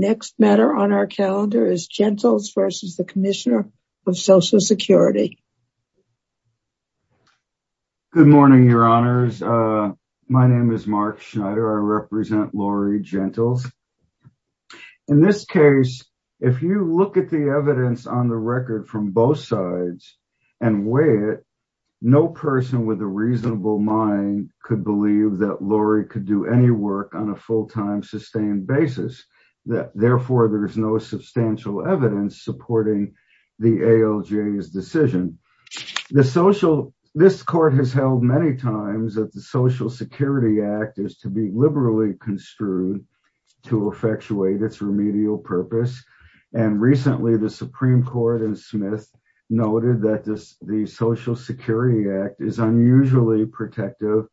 Next matter on our calendar is Gentles versus the Commissioner of Social Security. Good morning, your honors. My name is Mark Schneider. I represent Lori Gentles. In this case, if you look at the evidence on the record from both sides and weigh it, no person with a reasonable mind could believe that Lori could do any work on a full-time sustained basis. Therefore, there is no substantial evidence supporting the ALJ's decision. The social this court has held many times that the Social Security Act is to be liberally construed to effectuate its remedial purpose. And recently the Supreme Court and Smith noted that this the Social Security Act is unusually protective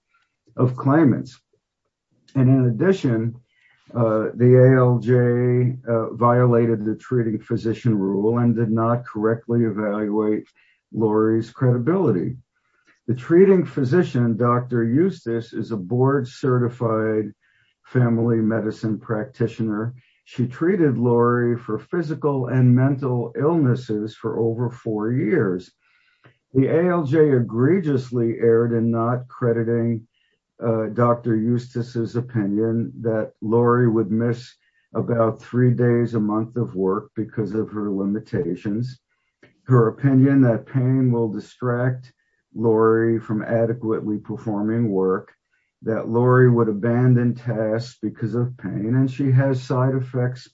of claimants. And in addition, the ALJ violated the treating physician rule and did not correctly evaluate Lori's credibility. The treating physician, Dr. Eustace is a board-certified family medicine practitioner. She treated Lori for physical and mental illnesses for over four years. The ALJ egregiously erred in not crediting Dr. Eustace's opinion that Lori would miss about three days a month of work because of her limitations. Her opinion that pain will distract Lori from adequately performing work that Lori would abandon tasks because of pain and she has side effects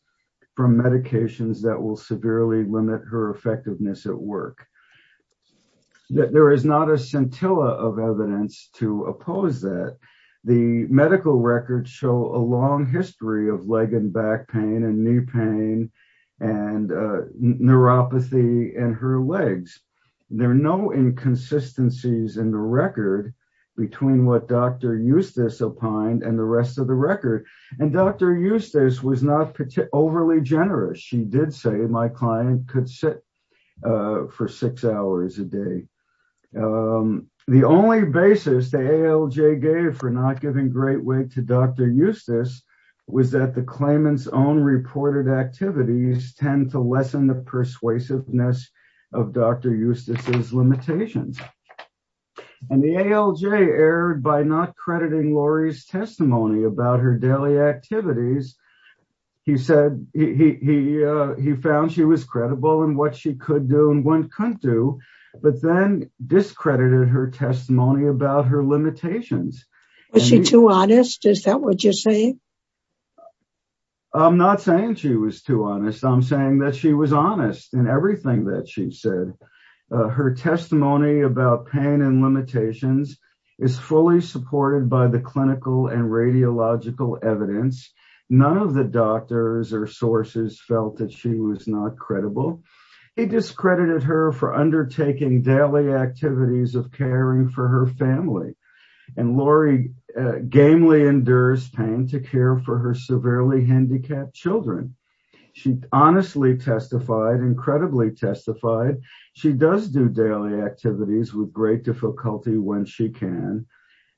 from medications that will severely limit her effectiveness at work. That there is not a scintilla of evidence to oppose that the medical records show a long history of leg and back pain and knee pain and neuropathy in her legs. There are no inconsistencies in the record between what Dr. Eustace opined and the rest of the record and Dr. Eustace was not overly generous. She did say my client could sit for six hours a day. The only basis the ALJ gave for not giving great weight to Dr. Eustace was that the claimants own reported activities tend to lessen the persuasiveness of Dr. Eustace's limitations. And the ALJ erred by not crediting Lori's testimony about her daily activities. He said he found she was credible in what she could do and one couldn't do but then discredited her testimony about her limitations. Was she too honest? Is that what you're saying? I'm not saying she was too honest. I'm saying that she was honest in everything that she said. Her testimony about pain and limitations is fully supported by the clinical and none of the doctors or sources felt that she was not credible. He discredited her for undertaking daily activities of caring for her family and Lori gamely endures pain to care for her severely handicapped children. She honestly testified, incredibly testified. She does do daily activities with great difficulty when she can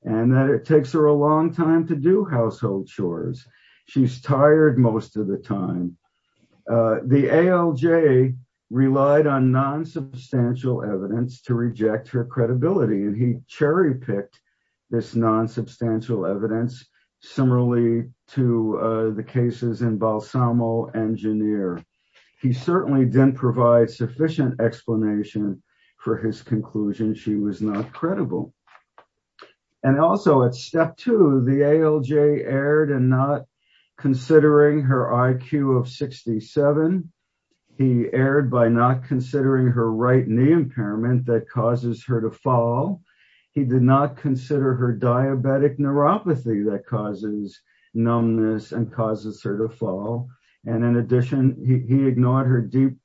and that it takes her a long time to do household chores. She's tired most of the time. The ALJ relied on non-substantial evidence to reject her credibility and he cherry-picked this non-substantial evidence similarly to the cases in Balsamo and Janir. He certainly didn't provide sufficient explanation for his conclusion. She was not credible. And also at step two, the ALJ erred and not considering her IQ of 67. He erred by not considering her right knee impairment that causes her to fall. He did not consider her diabetic neuropathy that causes numbness and causes her to fall. And in addition, he ignored her deep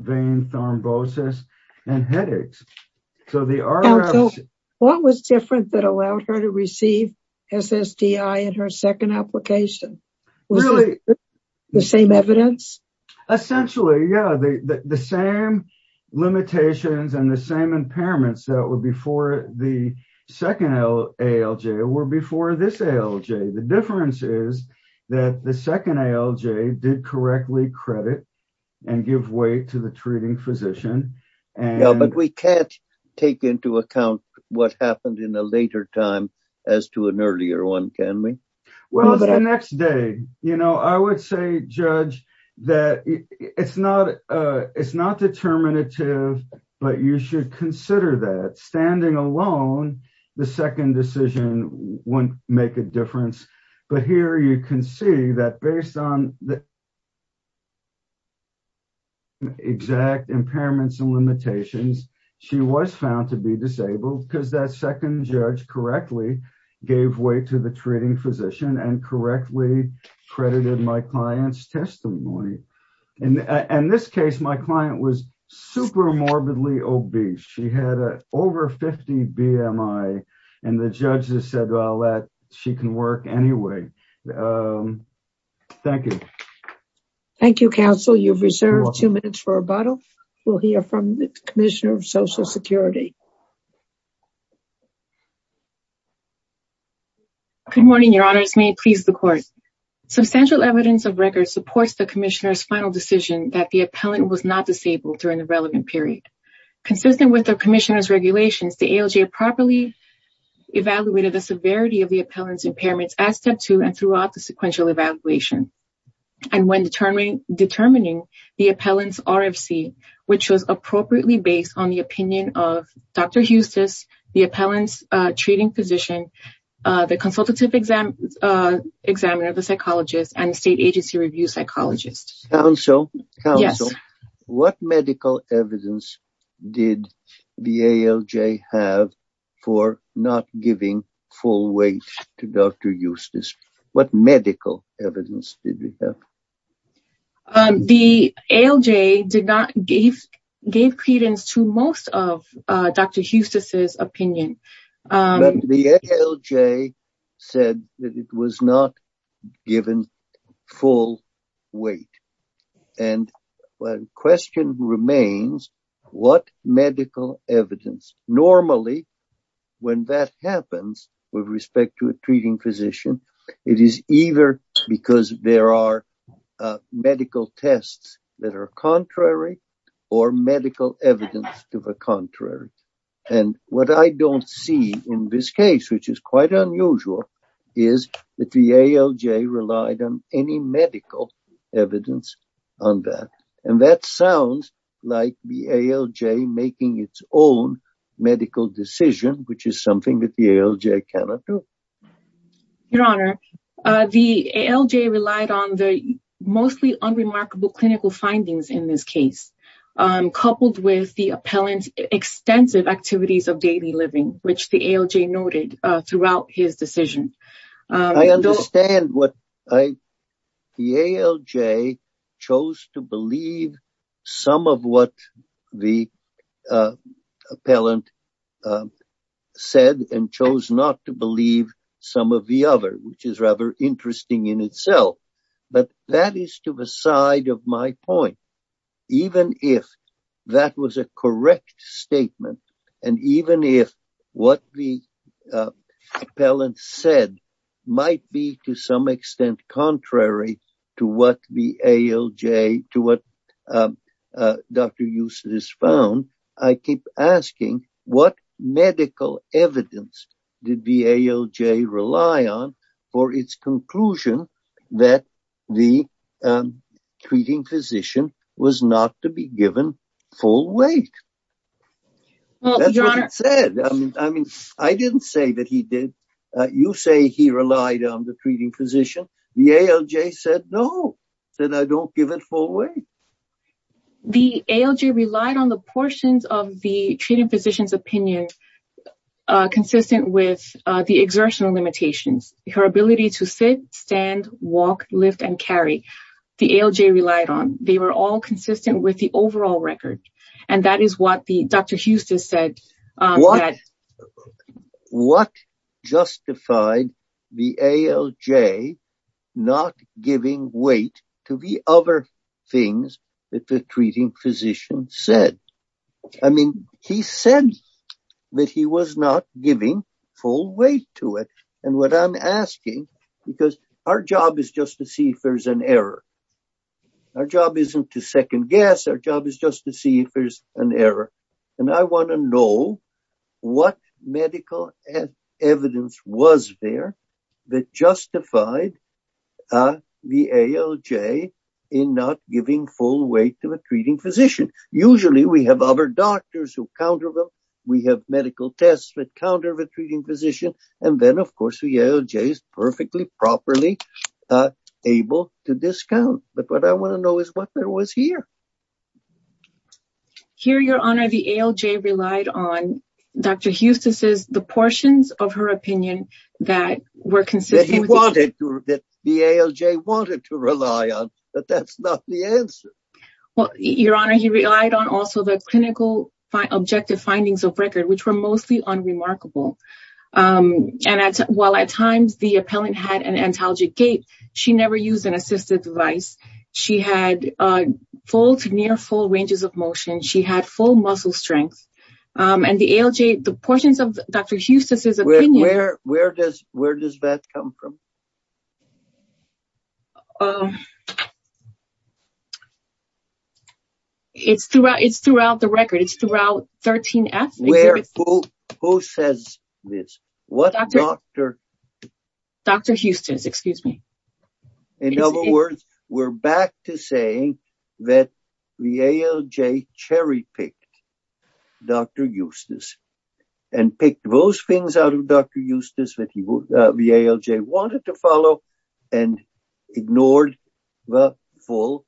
vein thrombosis and headaches. What was different that allowed her to receive SSDI in her second application? Was it the same evidence? Essentially, yeah, the same limitations and the same impairments that were before the second ALJ were before this ALJ. The difference is that the second ALJ did correctly credit and give weight to the take into account what happened in a later time as to an earlier one. Can we? Well, the next day, you know, I would say judge that it's not it's not determinative, but you should consider that standing alone. The second decision wouldn't make a difference. But here you can see that based on the exact impairments and limitations. She was found to be disabled because that second judge correctly gave weight to the treating physician and correctly credited my client's testimony. And in this case, my client was super morbidly obese. She had over 50 BMI and the judges said, well, that she can work anyway. Thank you. Thank you, counsel. You've reserved two minutes for rebuttal. We'll hear from the commissioner of Social Security. Good morning, your honors. May it please the court. Substantial evidence of record supports the commissioner's final decision that the appellant was not disabled during the relevant period. Consistent with the commissioner's regulations, the ALJ properly evaluated the severity of the appellant's impairments at step two and throughout the sequential evaluation and when determining the appellant's RFC, which was appropriately based on the opinion of Dr. Eustis, the appellant's treating physician, the consultative examiner, the psychologist and state agency review psychologist. Counsel, what medical evidence did the ALJ have for not giving full weight to Dr. Eustis? What medical evidence did we have? The ALJ did not give credence to most of Dr. Eustis's opinion. The ALJ said that it was not given full weight and the question remains, what medical evidence? Normally, when that happens with respect to a treating physician, it is either because there are medical tests that are contrary or medical evidence to the contrary. And what I don't see in this case, which is quite unusual, is that the ALJ relied on any medical evidence on that. And that sounds like the ALJ making its own medical decision, which is something that the ALJ cannot do. Your Honor, the ALJ relied on the mostly unremarkable clinical findings in this case, coupled with the appellant's extensive activities of daily living, which the ALJ noted throughout his decision. I understand what the ALJ chose to believe some of what the appellant said and chose not to believe some of the other, which is rather interesting in itself. But that is to the side of my point. Even if that was a correct statement, and even if what the appellant said might be to some extent contrary to what the ALJ, to what Dr. Eustis found. I keep asking, what medical evidence did the ALJ rely on for its conclusion that the treating physician was not to be given full weight? That's what it said. I mean, I didn't say that he did. You say he relied on the treating physician. The ALJ said, no, that I don't give it full weight. The ALJ relied on the portions of the treating physician's opinion consistent with the exertional limitations, her ability to sit, stand, walk, lift, and carry. The ALJ relied on. They were all consistent with the overall record. And that is what Dr. things that the treating physician said. I mean, he said that he was not giving full weight to it. And what I'm asking, because our job is just to see if there's an error. Our job isn't to second guess. Our job is just to see if there's an error. And I want to know what medical evidence was there that justified the ALJ in not giving full weight to the treating physician. Usually, we have other doctors who counter them. We have medical tests that counter the treating physician. And then, of course, the ALJ is perfectly, properly able to discount. But what I want to know is what there was here. Here, Your Honor, the ALJ relied on Dr. Huston's, the portions of her opinion that were consistent. He wanted, the ALJ wanted to rely on, but that's not the answer. Well, Your Honor, he relied on also the clinical objective findings of record, which were mostly unremarkable. And while at times the appellant had an antalgic gait, she never used an assistive device. She had full to near full ranges of motion. She had full muscle strength. And the ALJ, the portions of Dr. Huston's, where does that come from? It's throughout the record. It's throughout 13F. Who says this? What Dr. Dr. Huston's, excuse me. In other words, we're back to saying that the ALJ cherry picked Dr. Huston's and picked those things out of Dr. Huston's that the ALJ wanted to follow and ignored the full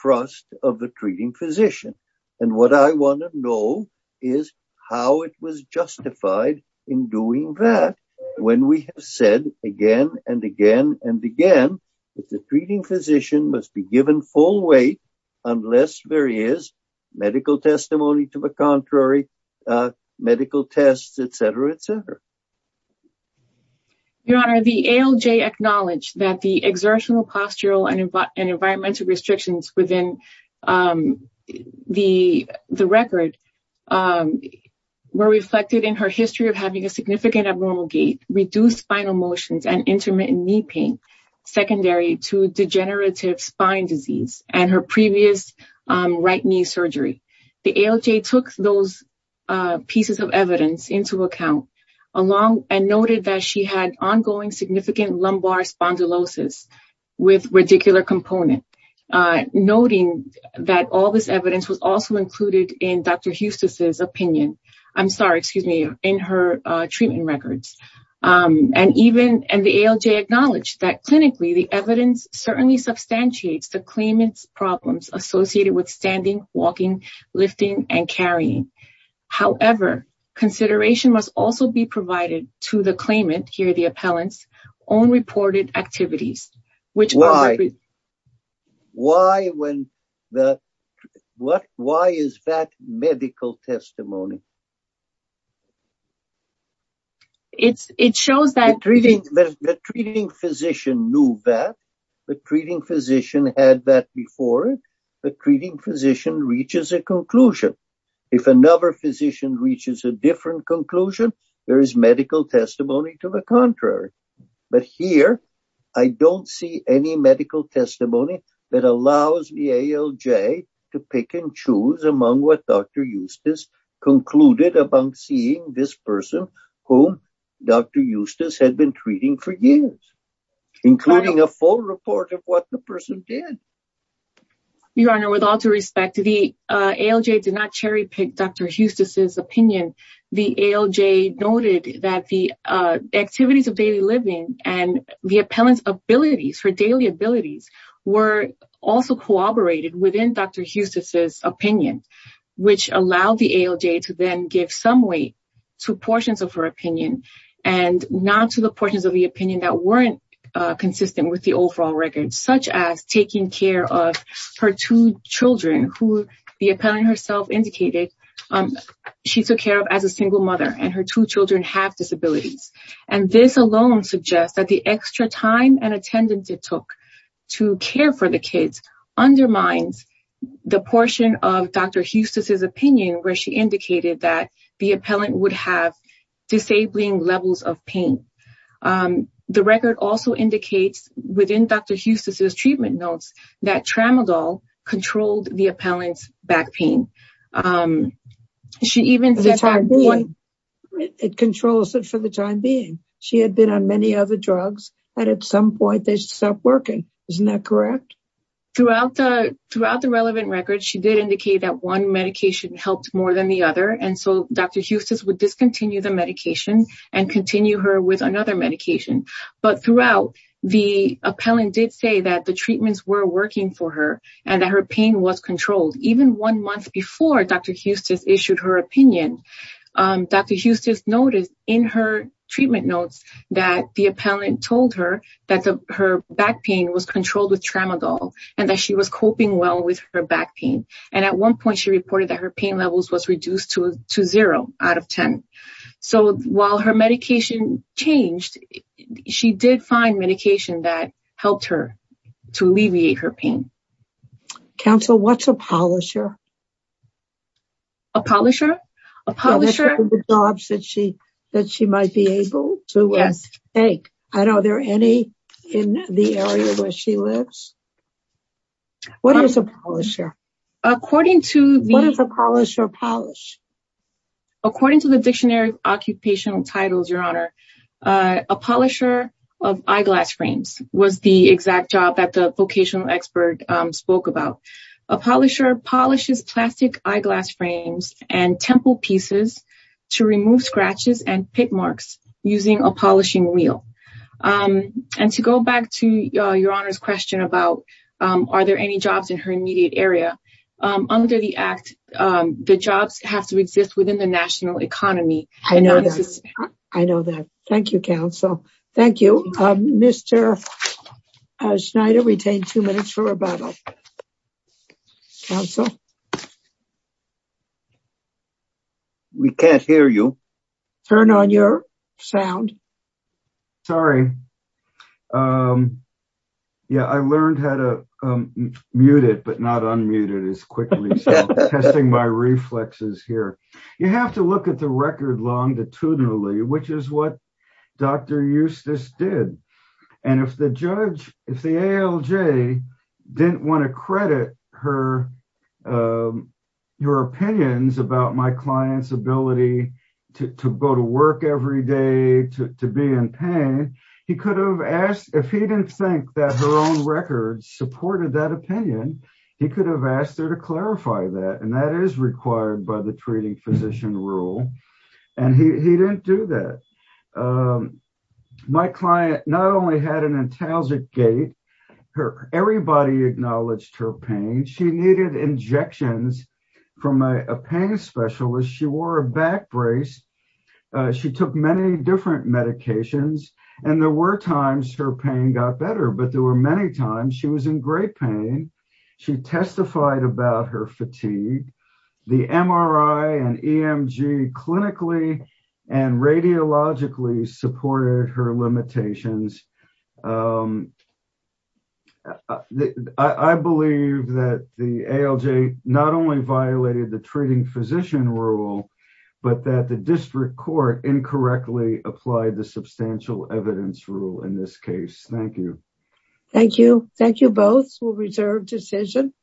thrust of the treating physician. And what I want to know is how it was justified in doing that when we have said again and again and again, that the treating physician must be given full weight unless there is medical testimony to the contrary, medical tests, et cetera, et cetera. Your Honor, the ALJ acknowledged that the exertional postural and environmental restrictions within the record were reflected in her history of having a significant abnormal gait, reduced spinal motions, and her previous right knee surgery. The ALJ took those pieces of evidence into account and noted that she had ongoing significant lumbar spondylosis with radicular component, noting that all this evidence was also included in Dr. Huston's opinion. I'm sorry, excuse me, in her treatment records. And the ALJ acknowledged that clinically, the evidence certainly substantiates the claimant's problems associated with standing, walking, lifting, and carrying. However, consideration must also be provided to the claimant, here the appellant's, own reported activities. Why is that medical testimony? The treating physician knew that, the treating physician had that before it, the treating physician reaches a conclusion. If another physician reaches a different conclusion, there is medical testimony to the contrary. But here, I don't see any medical testimony that allows the ALJ to pick and choose among what Dr. Eustace concluded upon seeing this person who Dr. Eustace had been treating for years, including a full report of what the person did. Your Honor, with all due respect, the ALJ did not cherry pick Dr. Eustace's opinion. The ALJ noted that the activities of daily living and the appellant's daily abilities were also corroborated within Dr. Eustace's opinion, which allowed the ALJ to then give some weight to portions of her opinion and not to the portions of the opinion that weren't consistent with the overall record, such as taking care of her two children who the appellant herself indicated she took care of as a single mother and her two children have disabilities. And this alone suggests that the extra time and attendance it took to care for the kids undermines the portion of Dr. Eustace's opinion where she indicated that the appellant would have disabling levels of pain. The record also indicates within Dr. Eustace's treatment notes that tramadol controlled the appellant's back pain. It controls it for the time being. She had been on many other drugs and at some point they stopped working. Isn't that correct? Throughout the relevant record, she did indicate that one medication helped more than the other. And so Dr. Eustace would discontinue the medication and continue her with another medication. But throughout, the appellant did say that the treatments were working for her and that her pain was controlled. Even one month before Dr. Eustace issued her opinion. Dr. Eustace noticed in her treatment notes that the appellant told her that her back pain was controlled with tramadol and that she was coping well with her back pain. And at one point she reported that her pain levels was reduced to zero out of ten. So while her medication changed, she did find medication that helped her to alleviate her pain. Counsel, what's a polisher? A polisher? A polisher? Are there any jobs that she might be able to take? I don't know. Are there any in the area where she lives? What is a polisher? According to the... What is a polisher polish? According to the Dictionary of Occupational Titles, Your Honor, a polisher polishes plastic eyeglass frames and temple pieces to remove scratches and pit marks using a polishing wheel. And to go back to Your Honor's question about are there any jobs in her immediate area, under the Act, the jobs have to exist within the national economy. I know that. I know that. Thank you, Counsel. Thank you. Mr. Schneider, retain two minutes for rebuttal. Counsel? We can't hear you. Turn on your sound. Sorry. Yeah, I learned how to mute it, but not unmute it as quickly, so testing my reflexes here. You have to look at the record longitudinally, which is what Dr. Eustace did. And if the judge, if the ALJ didn't want to credit her, your opinions about my client's ability to go to work every day, to be in pain, he could have asked, if he didn't think that her own records supported that opinion, he could have asked her to clarify that, and that is required by the treating physician rule. And he didn't do that. My client not only had an intagic gait, everybody acknowledged her pain. She needed injections from a pain specialist. She wore a back brace. She took many different medications, and there were times her pain got better, but there were many times she was in great pain. She testified about her fatigue. The MRI and EMG clinically and radiologically supported her limitations. I believe that the ALJ not only violated the treating physician rule, but that the district court incorrectly applied the substantial evidence rule in this case. Thank you. Thank you. Thank you both. We'll reserve decision.